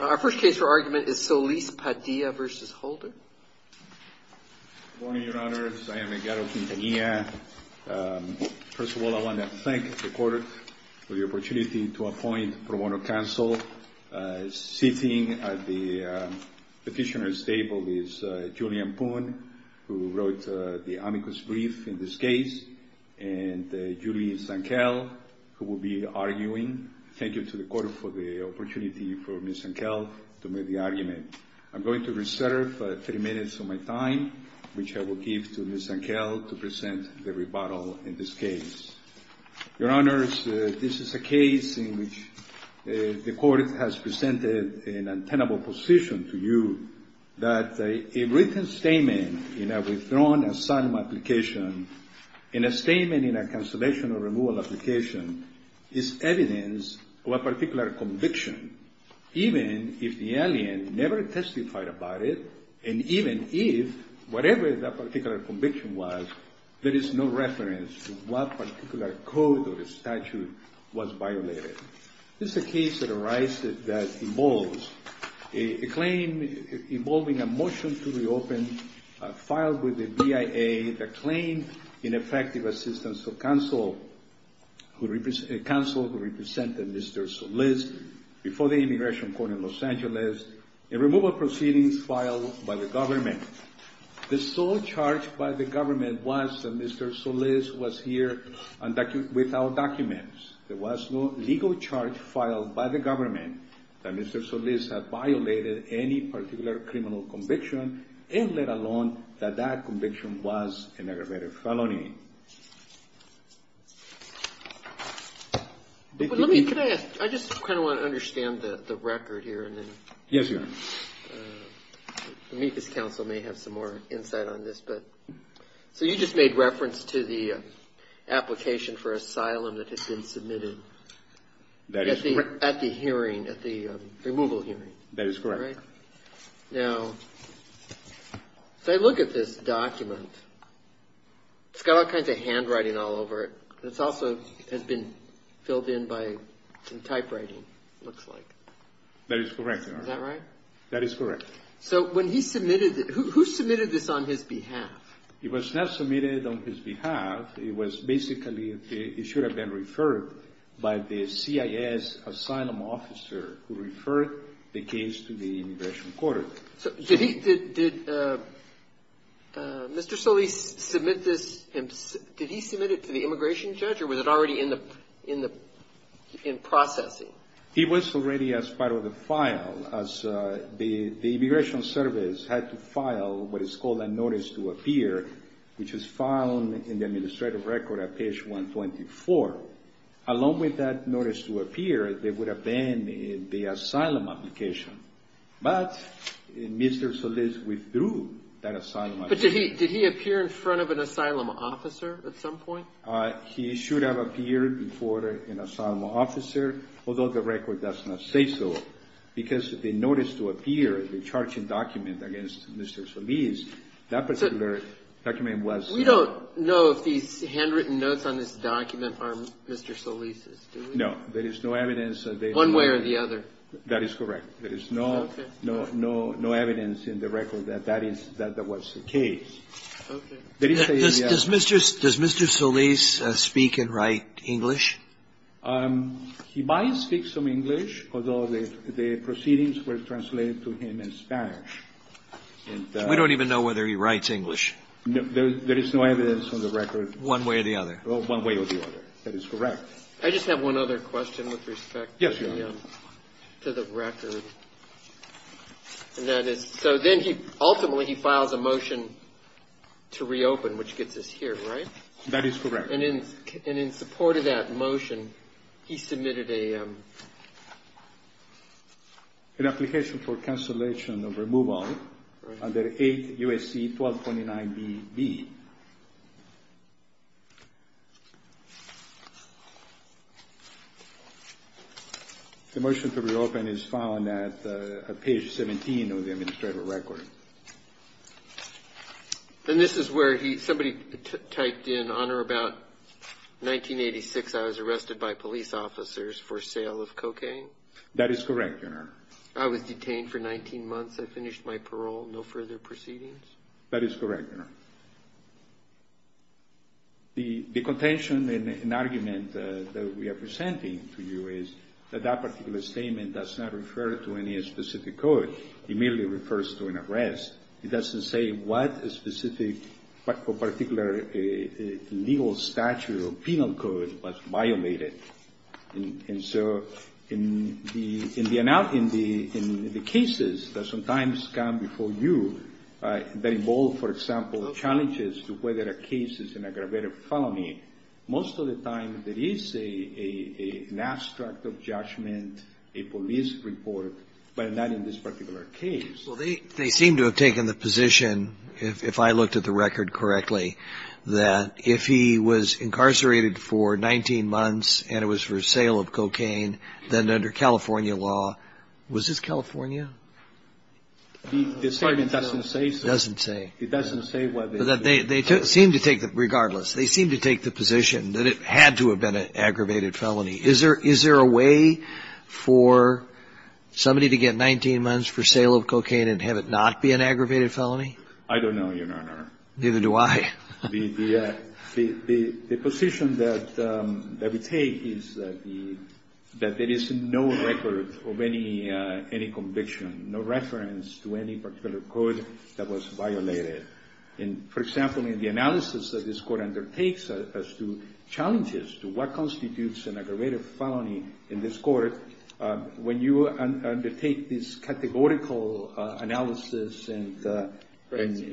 Our first case for argument is Solis-Padilla v. Holder. Good morning, Your Honors. I am Edgaro Quintanilla. First of all, I want to thank the Court for the opportunity to appoint pro bono counsel. Sitting at the petitioner's table is Julian Poon, who wrote the amicus brief in this case, and Julie Sankel, who will be arguing. Thank you to the Court for the opportunity for Ms. Sankel to make the argument. I'm going to reserve 30 minutes of my time, which I will give to Ms. Sankel, to present the rebuttal in this case. Your Honors, this is a case in which the Court has presented an untenable position to you that a written statement in a withdrawn asylum application, in a statement in a cancellation or removal application, is evidence of a particular conviction, even if the alien never testified about it, and even if whatever that particular conviction was, there is no reference to what particular code or statute was violated. This is a case that arises that involves a claim involving a motion to reopen filed with the BIA that claimed ineffective assistance of counsel who represented Mr. Solis before the Immigration Court in Los Angeles, and removal proceedings filed by the government. The sole charge by the government was that Mr. Solis was here without documents. There was no legal charge filed by the government that Mr. Solis had violated any particular criminal conviction, and let alone that that conviction was an aggravated felony. Let me ask, I just kind of want to understand the record here. Yes, Your Honor. Amicus Counsel may have some more insight on this. So you just made reference to the application for asylum that had been submitted at the hearing, at the removal hearing. That is correct. All right. Now, if I look at this document, it's got all kinds of handwriting all over it. This also has been filled in by some typewriting, it looks like. That is correct, Your Honor. Is that right? That is correct. So when he submitted it, who submitted this on his behalf? It was not submitted on his behalf. It was basically, it should have been referred by the CIS asylum officer who referred the case to the Immigration Court. So did he, did Mr. Solis submit this, did he submit it to the immigration judge, or was it already in the, in the, in processing? It was already as part of the file, as the Immigration Service had to file what is called a notice to appear, which is found in the administrative record at page 124. Along with that notice to appear, there would have been the asylum application. But Mr. Solis withdrew that asylum application. But did he, did he appear in front of an asylum officer at some point? He should have appeared before an asylum officer, although the record does not say so, because the notice to appear, the charging document against Mr. Solis, that particular document was not. We don't know if these handwritten notes on this document are Mr. Solis's, do we? No. There is no evidence. One way or the other. That is correct. Okay. There is no, no, no evidence in the record that that is, that that was the case. Okay. Does Mr. Solis speak and write English? He might speak some English, although the proceedings were translated to him in Spanish. We don't even know whether he writes English. There is no evidence on the record. One way or the other. One way or the other. That is correct. Yes, Your Honor. And that is, so then he, ultimately he files a motion to reopen, which gets us here, right? That is correct. And in, and in support of that motion, he submitted a. An application for cancellation of removal under 8 U.S.C. 1229 B.B. The motion to reopen is found at page 17 of the administrative record. And this is where he, somebody typed in, Honor, about 1986, I was arrested by police officers for sale of cocaine. That is correct, Your Honor. I was detained for 19 months. I finished my parole. No further proceedings. That is correct, Your Honor. The contention and argument that we are presenting to you is that that particular statement does not refer to any specific code. It merely refers to an arrest. It doesn't say what specific, particular legal statute or penal code was violated. And so in the, in the, in the cases that sometimes come before you that involve, for example, challenges to whether a case is an aggravated felony, most of the time there is a, an abstract of judgment, a police report, but not in this particular case. Well, they, they seem to have taken the position, if I looked at the record correctly, that if he was incarcerated for 19 months and it was for sale of cocaine, then under California law, was this California? The statement doesn't say so. It doesn't say. It doesn't say what they did. They seem to take the, regardless, they seem to take the position that it had to have been an aggravated felony. Is there, is there a way for somebody to get 19 months for sale of cocaine and have it not be an aggravated felony? I don't know, Your Honor. Neither do I. The, the, the, the position that, that we take is that the, that there is no record of any, any conviction, no reference to any particular code that was violated. For example, in the analysis that this court undertakes as to challenges to what constitutes an aggravated felony in this court, when you undertake this categorical analysis and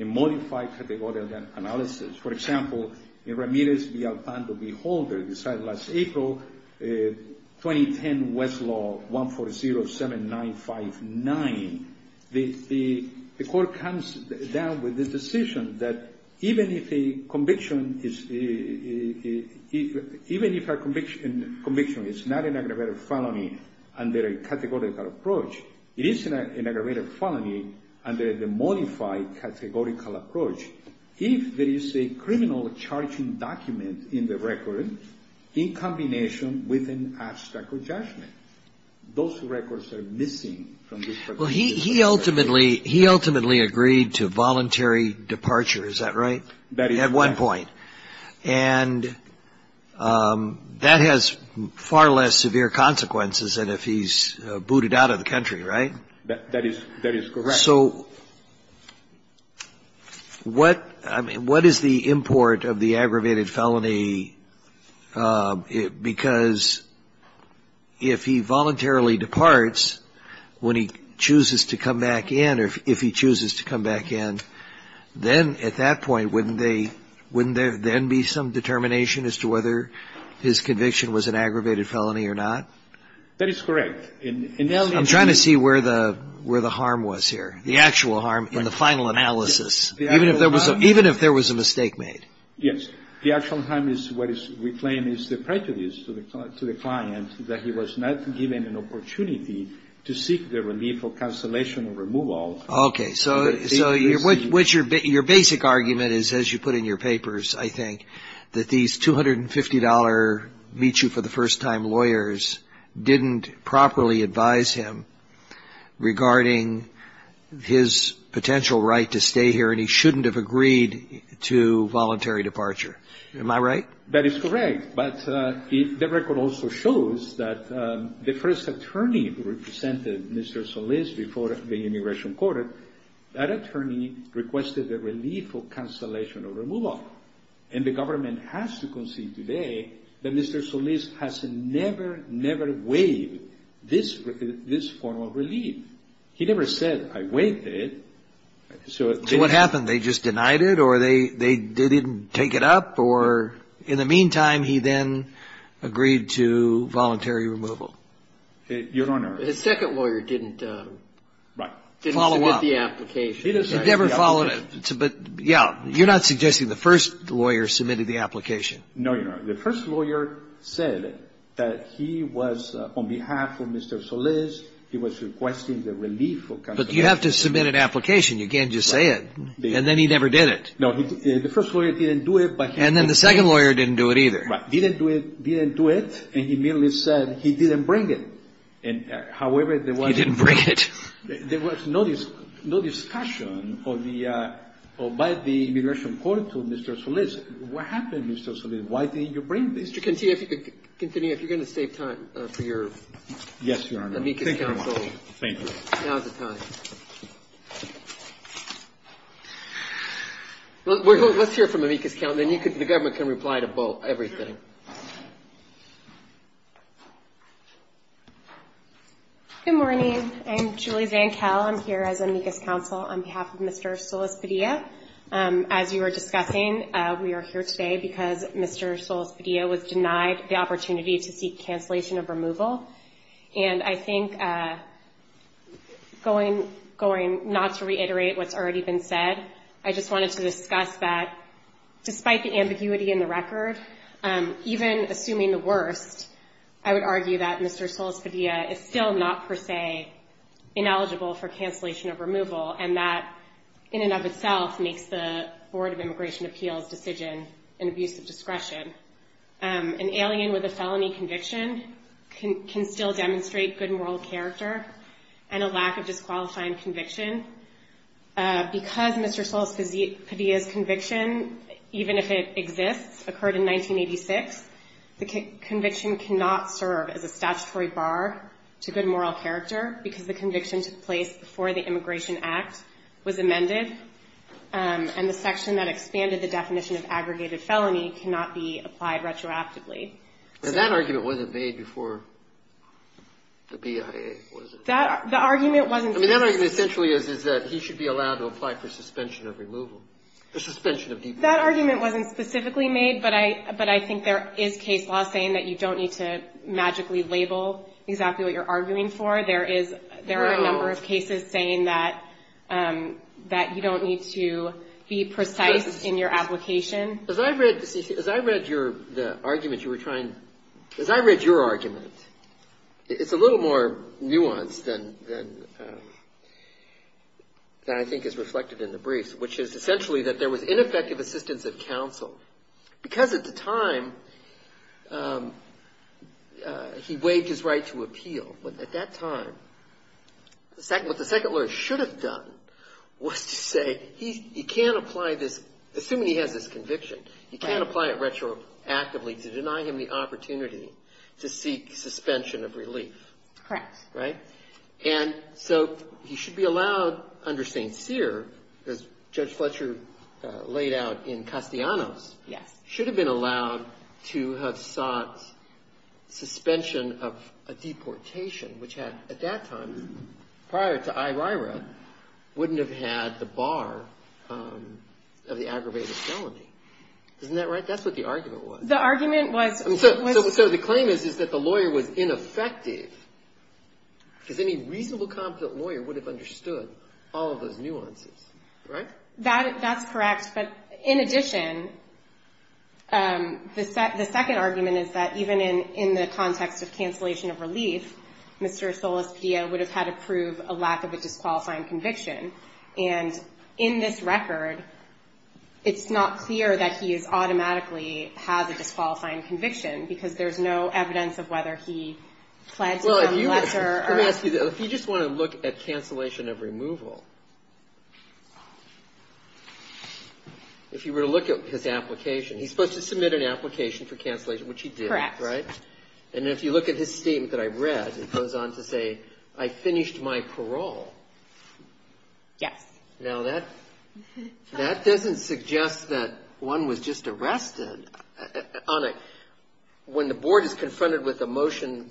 modify categorical analysis, for example, in Ramirez v. Alpando v. Holder, decided last April, 2010 Westlaw 1407959, the, the court comes down with this decision that even if a conviction is, even if a conviction is not an aggravated felony under a categorical approach, it is an aggravated felony under the modified categorical approach. If there is a criminal charging document in the record, in combination with an abstract of judgment, those records are missing from this particular case. Well, he, he ultimately, he ultimately agreed to voluntary departure, is that right? That is correct. At one point. And that has far less severe consequences than if he's booted out of the country, right? That, that is, that is correct. So what, I mean, what is the import of the aggravated felony? Because if he voluntarily departs, when he chooses to come back in, or if he chooses to come back in, then at that point, wouldn't they, wouldn't there then be some determination as to whether his conviction was an aggravated felony or not? That is correct. I'm trying to see where the, where the harm was here, the actual harm in the final analysis, even if there was a, even if there was a mistake made. Yes. The actual harm is what we claim is the prejudice to the, to the client that he was not given an opportunity to seek the relief of cancellation or removal. Okay. So, so what, what's your, your basic argument is, as you put in your papers, I think, that these $250 meet-you-for-the-first-time lawyers didn't properly advise him regarding his potential right to stay here, and he shouldn't have agreed to voluntary departure. Am I right? That is correct. But the record also shows that the first attorney who represented Mr. Solis before the immigration court, that attorney requested the relief of cancellation or removal. And the government has to concede today that Mr. Solis has never, never waived this, this form of relief. He never said, I waived it, so it didn't. So what happened? They just denied it, or they, they didn't take it up? Or in the meantime, he then agreed to voluntary removal? Your Honor. His second lawyer didn't. Right. Follow up. Didn't submit the application. He never followed it. But, yeah, you're not suggesting the first lawyer submitted the application. No, Your Honor. The first lawyer said that he was, on behalf of Mr. Solis, he was requesting the relief of cancellation. But you have to submit an application. You can't just say it. Right. And then he never did it. No. The first lawyer didn't do it, but he did. And then the second lawyer didn't do it either. Right. Didn't do it, didn't do it, and he immediately said he didn't bring it. And, however, there was. He didn't bring it. There was no discussion of the, by the immigration court to Mr. Solis. What happened, Mr. Solis? Why didn't you bring this? Mr. Cantillo, if you could continue, if you're going to save time for your. Yes, Your Honor. Thank you very much. Thank you. Now is the time. Let's hear from Amicus County. Then the government can reply to everything. Good morning. I'm Julie Zankel. I'm here as Amicus Council on behalf of Mr. Solis Padilla. As you were discussing, we are here today because Mr. Solis Padilla was denied the opportunity to seek cancellation of removal. And I think going not to reiterate what's already been said, I just wanted to discuss that despite the ambiguity in the record, even assuming the worst, I would argue that Mr. Solis Padilla is still not per se ineligible for the removal of Mr. Padilla. Mr. Solis Padilla himself makes the Board of Immigration Appeals decision in abuse of discretion. An alien with a felony conviction can still demonstrate good moral character and a lack of disqualifying conviction. Because Mr. Solis Padilla's conviction, even if it exists, occurred in 1986, the conviction cannot serve as a statutory bar to good moral character because the conviction took place before the Immigration Act was amended. And the section that expanded the definition of aggregated felony cannot be applied retroactively. And that argument wasn't made before the BIA, was it? That argument wasn't made. I mean, that argument essentially is that he should be allowed to apply for suspension of removal, or suspension of deportation. That argument wasn't specifically made, but I think there is case law saying that you don't need to magically label exactly what you're arguing for. There are a number of cases saying that you don't need to be precise in your application. As I read your argument, it's a little more nuanced than I think is reflected in the briefs, which is essentially that there was ineffective assistance of counsel because at the time he waived his right to appeal. But at that time, what the second lawyer should have done was to say he can't apply this, assuming he has this conviction, he can't apply it retroactively to deny him the opportunity to seek suspension of relief. Correct. Right? And so he should be allowed under St. Cyr, as Judge Fletcher laid out in Castellanos, should have been allowed to have sought suspension of a deportation, which at that time, prior to Irira, wouldn't have had the bar of the aggravated felony. Isn't that right? That's what the argument was. The argument was... So the claim is that the lawyer was ineffective because any reasonable, competent lawyer would have understood all of those nuances. Right? That's correct. But in addition, the second argument is that even in the context of cancellation of relief, Mr. Solis-Padilla would have had to prove a lack of a disqualifying conviction. And in this record, it's not clear that he is automatically has a disqualifying conviction because there's no evidence of whether he pled to some lesser or... Well, let me ask you this. If you just want to look at cancellation of removal, if you were to look at his application, he's supposed to submit an application for cancellation, which he did. Correct. Correct. And if you look at his statement that I read, it goes on to say, I finished my parole. Yes. Now, that doesn't suggest that one was just arrested on a... When the board is confronted with a motion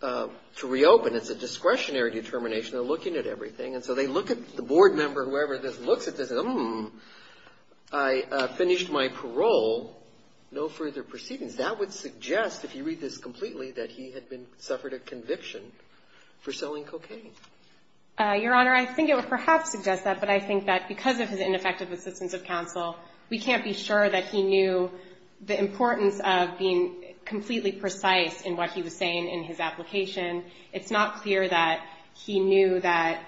to reopen, it's a discretionary determination. They're looking at everything. And so they look at the board member, whoever looks at this, and, hmm, I finished my parole. No further proceedings. That would suggest, if you read this completely, that he had been, suffered a conviction for selling cocaine. Your Honor, I think it would perhaps suggest that, but I think that because of his ineffective assistance of counsel, we can't be sure that he knew the importance of being completely precise in what he was saying in his application. It's not clear that he knew that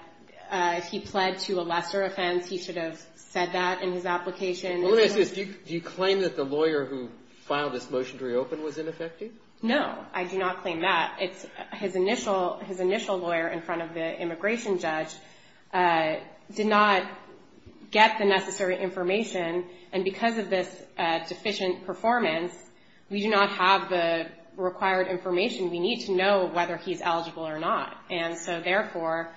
if he pled to a lesser offense, he should have said that in his application. Well, let me ask you this. Do you claim that the lawyer who filed this motion to reopen was ineffective? No. I do not claim that. His initial lawyer in front of the immigration judge did not get the necessary information. And because of this deficient performance, we do not have the required information. We need to know whether he's eligible or not. And so, therefore,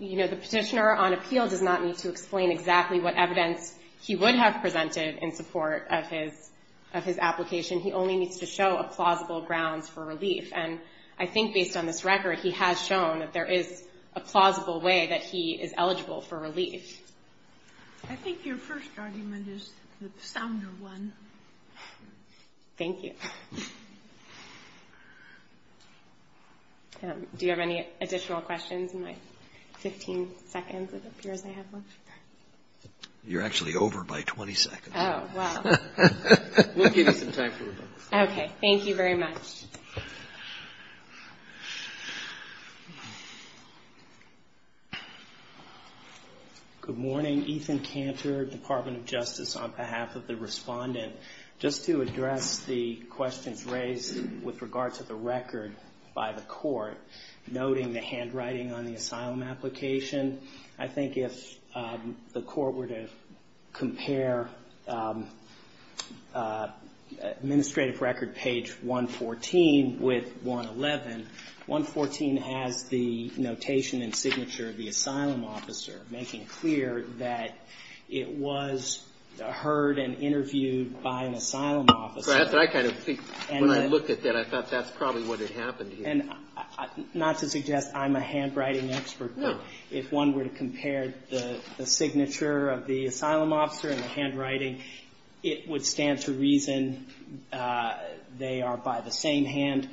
you know, the petitioner on appeal does not need to explain exactly what evidence he would have presented in support of his application. He only needs to show a plausible grounds for relief. And I think based on this record, he has shown that there is a plausible way that he is eligible for relief. I think your first argument is the sounder one. Thank you. Do you have any additional questions in my 15 seconds? You're actually over by 20 seconds. Oh, wow. We'll give you some time for rebuttal. Okay. Thank you very much. Good morning. Ethan Cantor, Department of Justice, on behalf of the respondent. Just to address the questions raised with regard to the record by the court, noting the handwriting on the asylum application, I think if the court were to compare administrative record page 114 with 111, 114 has the notation and signature of the asylum officer, making clear that it was heard and interviewed by an asylum officer. I kind of think when I looked at that, I thought that's probably what had happened here. Not to suggest I'm a handwriting expert, but if one were to compare the signature of the asylum officer and the handwriting, it would stand to reason they are by the same hand.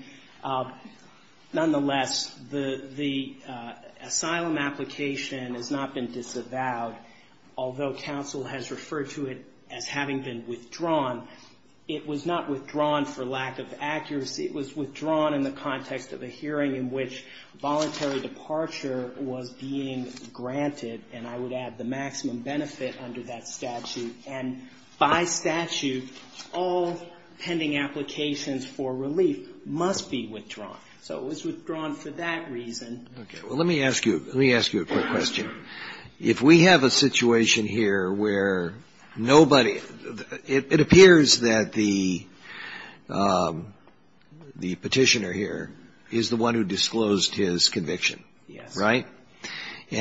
Nonetheless, the asylum application has not been disavowed, although counsel has referred to it as having been withdrawn. It was not withdrawn for lack of accuracy. It was withdrawn in the context of a hearing in which voluntary departure was being granted, and I would add, the maximum benefit under that statute. And by statute, all pending applications for relief must be withdrawn. So it was withdrawn for that reason. Okay. Well, let me ask you a quick question. If we have a situation here where nobody – it appears that the asylum application – the petitioner here is the one who disclosed his conviction, right? Yes.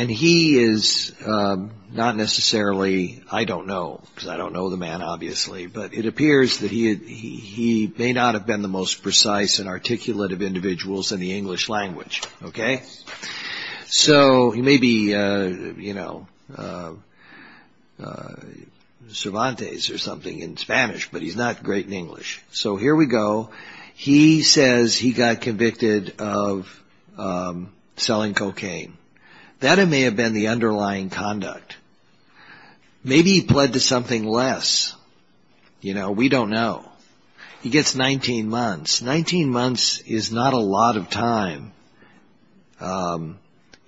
And he is not necessarily – I don't know, because I don't know the man, obviously, but it appears that he may not have been the most precise and articulate of individuals in the English language, okay? Yes. So he may be, you know, Cervantes or something in Spanish, but he's not great in English. So here we go. He says he got convicted of selling cocaine. That may have been the underlying conduct. Maybe he pled to something less. You know, we don't know. He gets 19 months. Nineteen months is not a lot of time,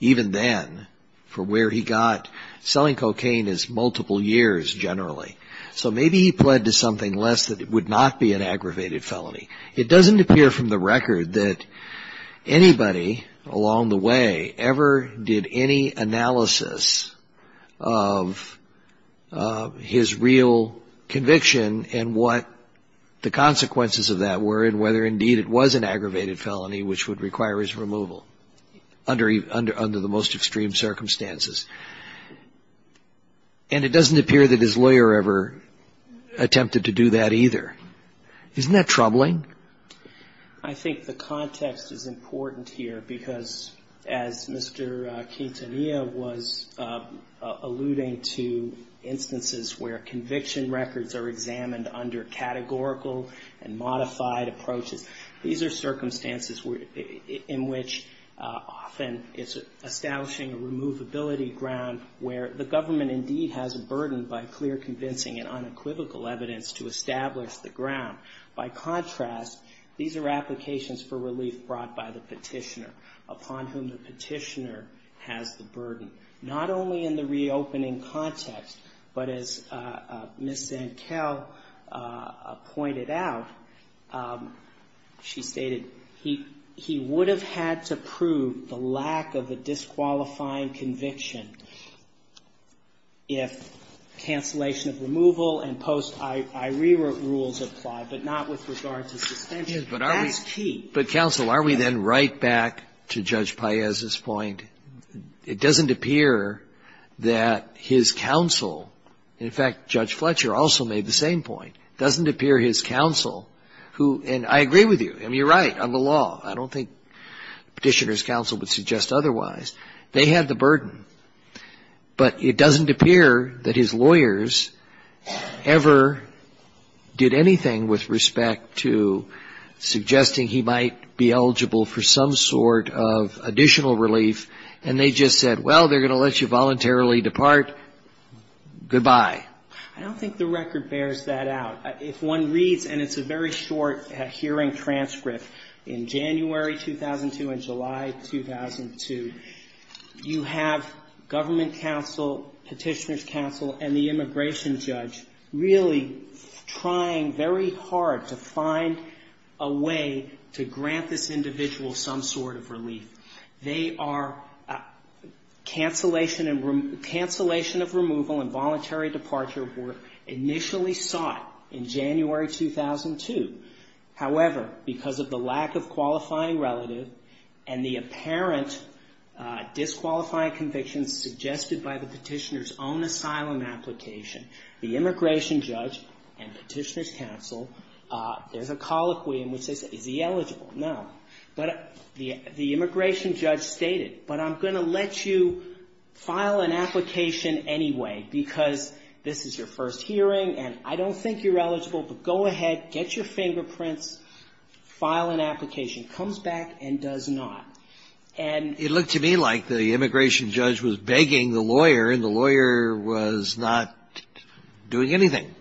even then, for where he got – selling cocaine is multiple years, generally. So maybe he pled to something less that it would not be an aggravated felony. It doesn't appear from the record that anybody along the way ever did any analysis of his real conviction and what the consequences of that were and whether, indeed, it was an aggravated felony, which would require his removal under the most extreme circumstances. And it doesn't appear that his lawyer ever attempted to do that either. Isn't that troubling? I think the context is important here because, as Mr. Quintanilla was alluding to, instances where conviction records are examined under categorical and modified approaches, these are circumstances in which often it's establishing a removability ground where the government, indeed, has a burden by clear, convincing and unequivocal evidence to establish the ground. By contrast, these are applications for relief brought by the petitioner, upon whom the petitioner has the burden, not only in the reopening context, but as Ms. Zankel pointed out, she stated, he would have had to prove the lack of a disqualifying conviction if cancellation of removal and post-irere rules applied, but not with regard to suspension. That's key. But counsel, are we then right back to Judge Paez's point? It doesn't appear that his counsel, in fact, Judge Fletcher also made the same point. It doesn't appear his counsel, who, and I agree with you. I mean, you're right on the law. I don't think Petitioner's counsel would suggest otherwise. They had the burden. But it doesn't appear that his lawyers ever did anything with respect to suggesting he might be eligible for some sort of additional relief, and they just said, well, they're going to let you voluntarily depart. Goodbye. I don't think the record bears that out. If one reads, and it's a very short hearing transcript, in January 2002 and July 2002, you have government counsel, Petitioner's counsel, and the immigration judge really trying very hard to find a way to grant this individual some sort of relief. They are cancellation of removal and voluntary departure were initially sought in January 2002. However, because of the lack of qualifying relative and the apparent disqualifying conviction suggested by the Petitioner's own asylum application, the immigration judge and Petitioner's counsel, there's a colloquy in which they say, is he eligible? No. But the immigration judge stated, but I'm going to let you file an application anyway because this is your first hearing and I don't think you're eligible, but go ahead, get your fingerprints, file an application. Comes back and does not. It looked to me like the immigration judge was begging the lawyer and the lawyer was not doing anything.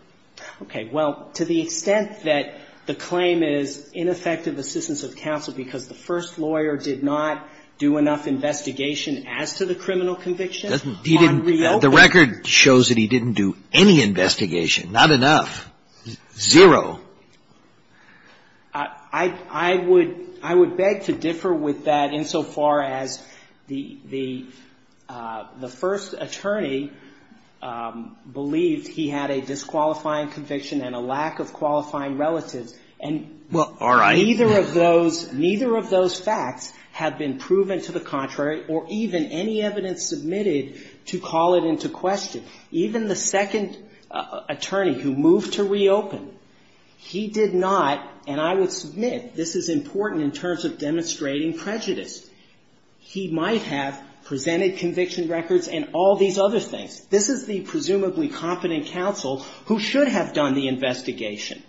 Okay. Well, to the extent that the claim is ineffective assistance of counsel because the first lawyer did not do enough investigation as to the criminal conviction on reopening. The record shows that he didn't do any investigation, not enough, zero. I would beg to differ with that insofar as the first attorney believed he had a disqualifying conviction and a lack of qualifying relatives. Well, all right. And neither of those facts have been proven to the contrary or even any evidence submitted to call it into question. Even the second attorney who moved to reopen, he did not, and I would submit this is important in terms of demonstrating prejudice. He might have presented conviction records and all these other things. This is the presumably competent counsel who should have done the investigation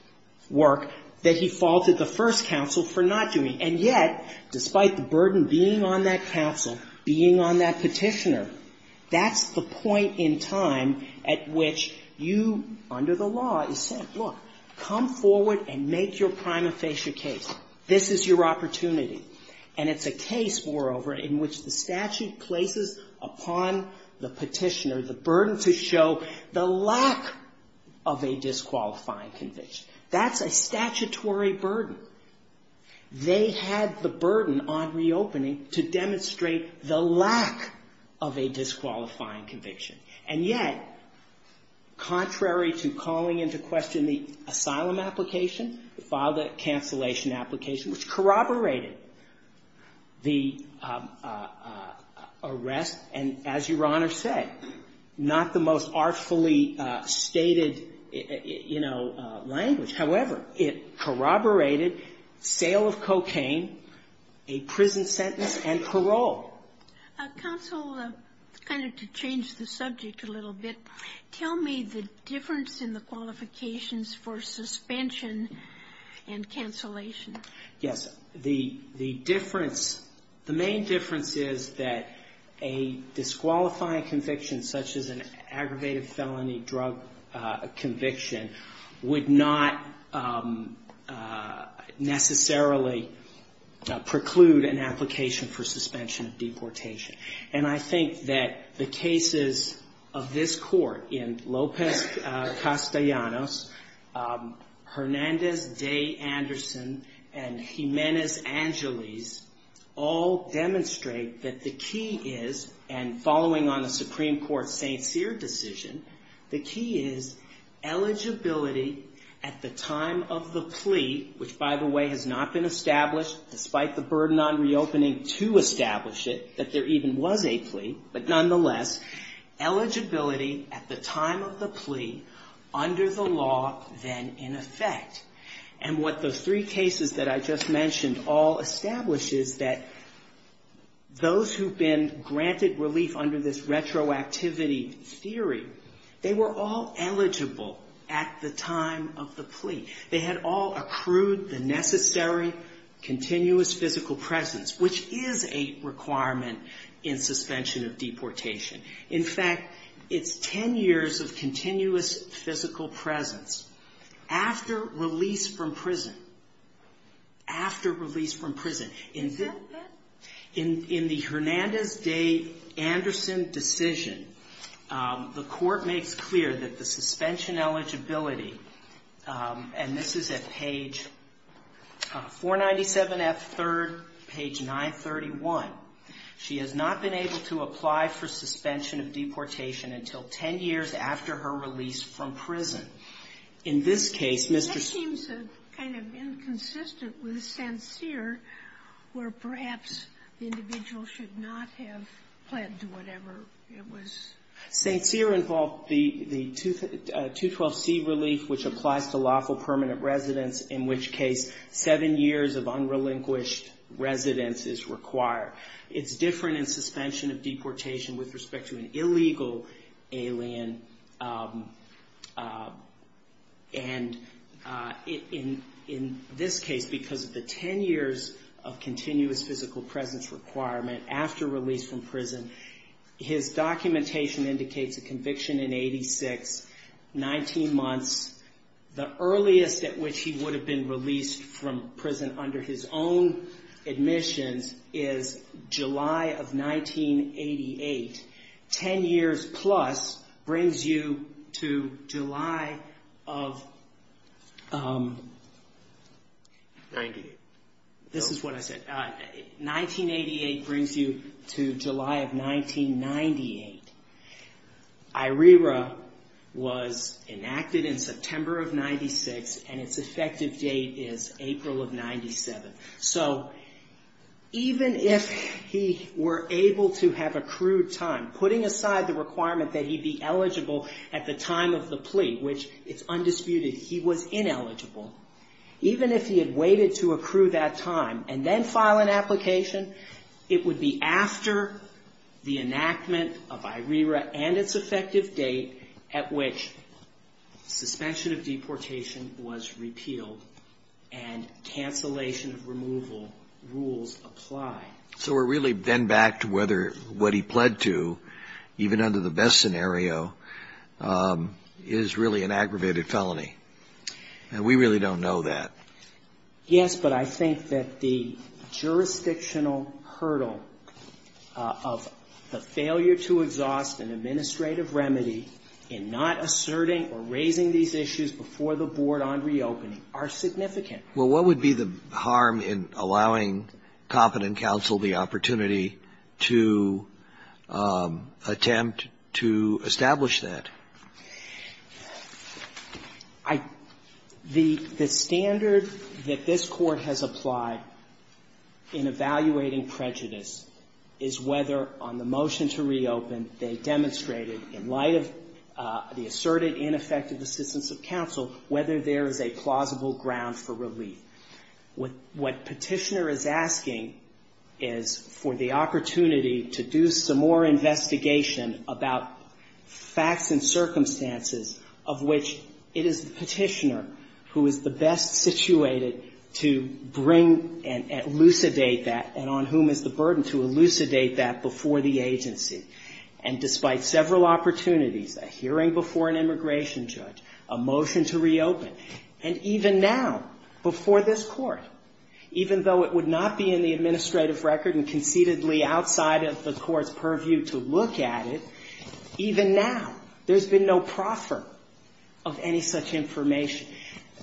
work that he faulted the first counsel for not doing. And yet, despite the burden being on that counsel, being on that petitioner, that's the point in time at which you, under the law, is said, look, come forward and make your prima facie case. This is your opportunity. And it's a case, moreover, in which the statute places upon the petitioner the burden to show the lack of a disqualifying conviction. That's a statutory burden. And yet, contrary to calling into question the asylum application, filed a cancellation application, which corroborated the arrest, and as Your Honor said, not the most artfully stated, you know, language. However, it corroborated sale of cocaine, a prison sentence, and parole. Counsel, kind of to change the subject a little bit, tell me the difference in the qualifications for suspension and cancellation. Yes. The difference, the main difference is that a disqualifying conviction, such as an aggravated felony drug conviction, would not necessarily preclude an application for deportation. And I think that the cases of this Court, in Lopez-Castellanos, Hernandez-Day-Anderson, and Jimenez-Angeles, all demonstrate that the key is, and following on the Supreme Court's St. Cyr decision, the key is eligibility at the time of the plea, which by the way, has not been established, despite the burden on reopening to establish it, that there even was a plea, but nonetheless, eligibility at the time of the plea under the law, then in effect. And what those three cases that I just mentioned all establish is that those who've been granted relief under this retroactivity theory, they were all eligible at the time of the plea. They had all accrued the necessary continuous physical presence, which is a requirement in suspension of deportation. In fact, it's ten years of continuous physical presence after release from prison, after release from prison. In the Hernandez-Day-Anderson decision, the Court makes clear that the suspension eligibility, and this is at page 497F3rd, page 931, she has not been able to apply for suspension of deportation until ten years after her release from prison. In this case, Mr. St. Cyr. Sotomayor, that seems kind of inconsistent with St. Cyr, where perhaps the individual should not have pled to whatever it was. St. Cyr involved the 212C relief, which applies to lawful permanent residence, in which case seven years of unrelinquished residence is required. It's different in suspension of deportation with respect to an illegal alien, and in this case, because of the ten years of continuous physical presence requirement after release from prison, his documentation indicates a conviction in 86, 19 months. The earliest at which he would have been released from prison under his own admissions is July of 1988. Ten years plus brings you to July of... Ninety-eight. This is what I said. 1988 brings you to July of 1998. IRERA was enacted in September of 96, and its effective date is April of 97. So even if he were able to have accrued time, putting aside the requirement that he be eligible at the time of the plea, which it's not, and then file an application, it would be after the enactment of IRERA and its effective date at which suspension of deportation was repealed and cancellation of removal rules apply. So we're really then back to whether what he pled to, even under the best scenario, is really an aggravated felony. And we really don't know that. Yes, but I think that the jurisdictional hurdle of the failure to exhaust an administrative remedy in not asserting or raising these issues before the board on reopening are significant. Well, what would be the harm in allowing Competent Counsel the opportunity to attempt to establish that? I — the standard that this Court has applied in evaluating prejudice is whether on the motion to reopen they demonstrated, in light of the asserted ineffective assistance of counsel, whether there is a plausible ground for relief. What Petitioner is asking is for the opportunity to do some more investigation about facts and circumstances of which it is Petitioner who is the best situated to bring and elucidate that, and on whom is the burden to elucidate that before the agency. And despite several opportunities, a hearing before an immigration judge, a motion to reopen, and even now, before this Court, even though it would not be in the administrative record and concededly outside of the Court's purview to look at it, even now, there's been no proffer of any such information.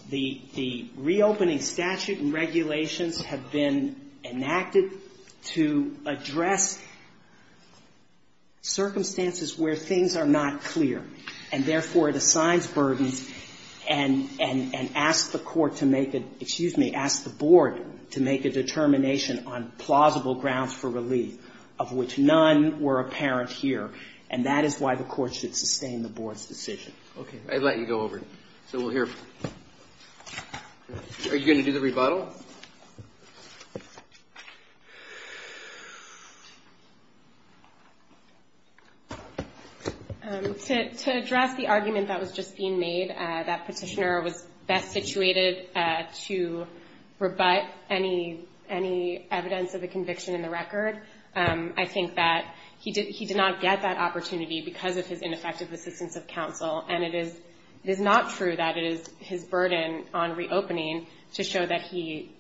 The reopening statute and regulations have been enacted to address circumstances where things are not clear, and therefore, it assigns burdens and asks the Court to make a — excuse me, asks the Board to make a determination on plausible grounds for relief, of which none were apparent here. And that is why the Court should sustain the Board's decision. Okay. I'd let you go over. So we'll hear — are you going to do the rebuttal? To address the argument that was just being made, that Petitioner was best situated to rebut any evidence of a conviction in the record, I think that he did not get that opportunity because of his ineffective assistance of counsel. And it is not true that it is his burden on reopening to show that he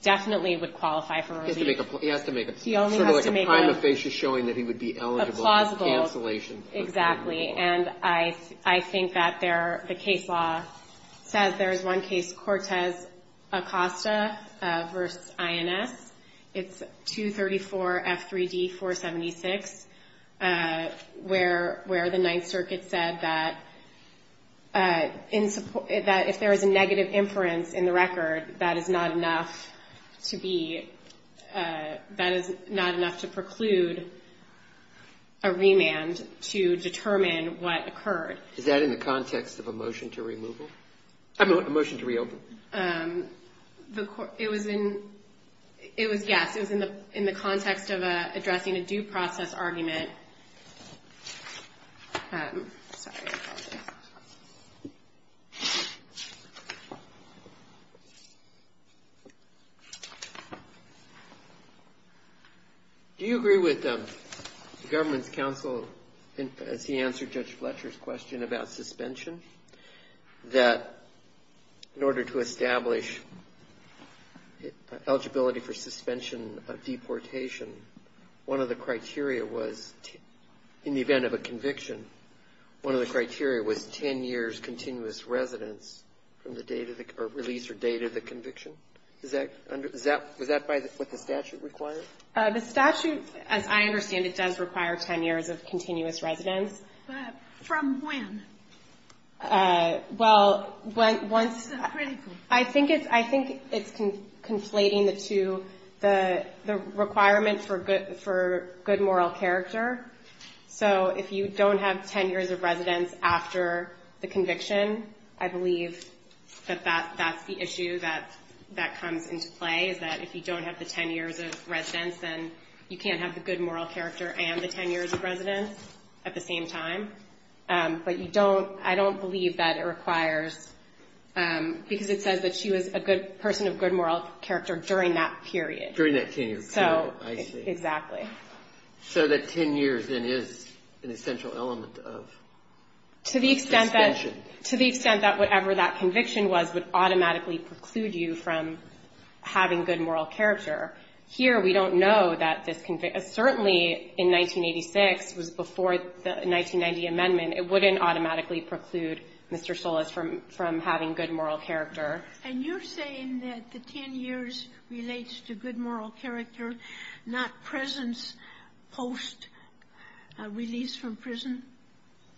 definitely would qualify for relief. He has to make a — He only has to make a — Sort of like a prima facie showing that he would be eligible — A plausible —— for cancellation. Exactly. And I think that there — the case law says there is one case, Cortez-Acosta v. INS. It's 234 F.3.D. 476, where the Ninth Circuit said that if there is a negative inference in the record, that is not enough to be — that is not enough to preclude a decision to determine what occurred. Is that in the context of a motion to removal? I mean, a motion to reopen? It was in — it was — yes, it was in the context of addressing a due process argument. Do you agree with the government's counsel, as he answered Judge Fletcher's question about suspension, that in order to establish eligibility for suspension of deportation, one of the criteria was — in the event of a conviction, one of the criteria was 10 years' continuous residence from the date of the — or release or date of the conviction? Is that — is that what the statute requires? The statute, as I understand it, does require 10 years of continuous residence. But from when? Well, once — I think it's — I think it's conflating the two — the requirement for good moral character. So if you don't have 10 years of residence after the conviction, I believe that that's the issue that comes into play, is that if you don't have the 10 years of residence, then you can't have the good moral character and the 10 years of residence at the same time. But you don't — I don't believe that it requires — because it says that she was a good person of good moral character during that period. During that 10-year period, I see. So — exactly. So that 10 years, then, is an essential element of suspension. To the extent that — to the extent that whatever that conviction was would automatically preclude you from having good moral character. Here, we don't know that this — certainly in 1986, it was before the 1990 amendment, it wouldn't automatically preclude Mr. Solis from having good moral character. And you're saying that the 10 years relates to good moral character, not presence post-release from prison?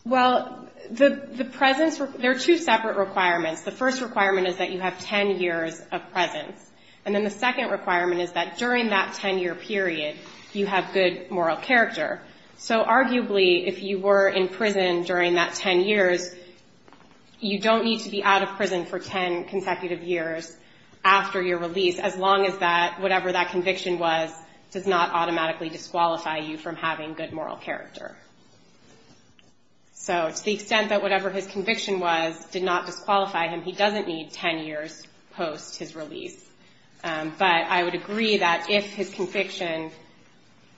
Well, the presence — there are two separate requirements. The first requirement is that you have 10 years of presence. And then the second requirement is that during that 10-year period, you have good moral character. So arguably, if you were in prison during that 10 years, you don't need to be 10 years post-release to disqualify you from having good moral character. So to the extent that whatever his conviction was did not disqualify him, he doesn't need 10 years post-his release. But I would agree that if his conviction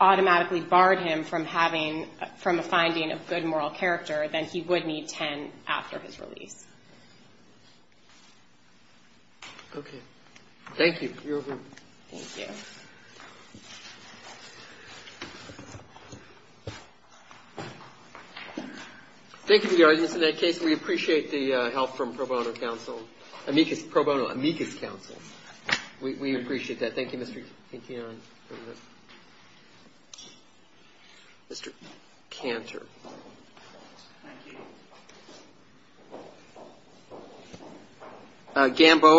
automatically barred him from having — from a finding of good moral character, then he would need 10 after his release. Okay. Thank you. You're over. Thank you. Thank you to the audience. In that case, we appreciate the help from pro bono counsel — amicus — pro bono amicus counsel. We appreciate that. Thank you, Mr. Etienne. Thank you, Mr. Cantor. Thank you.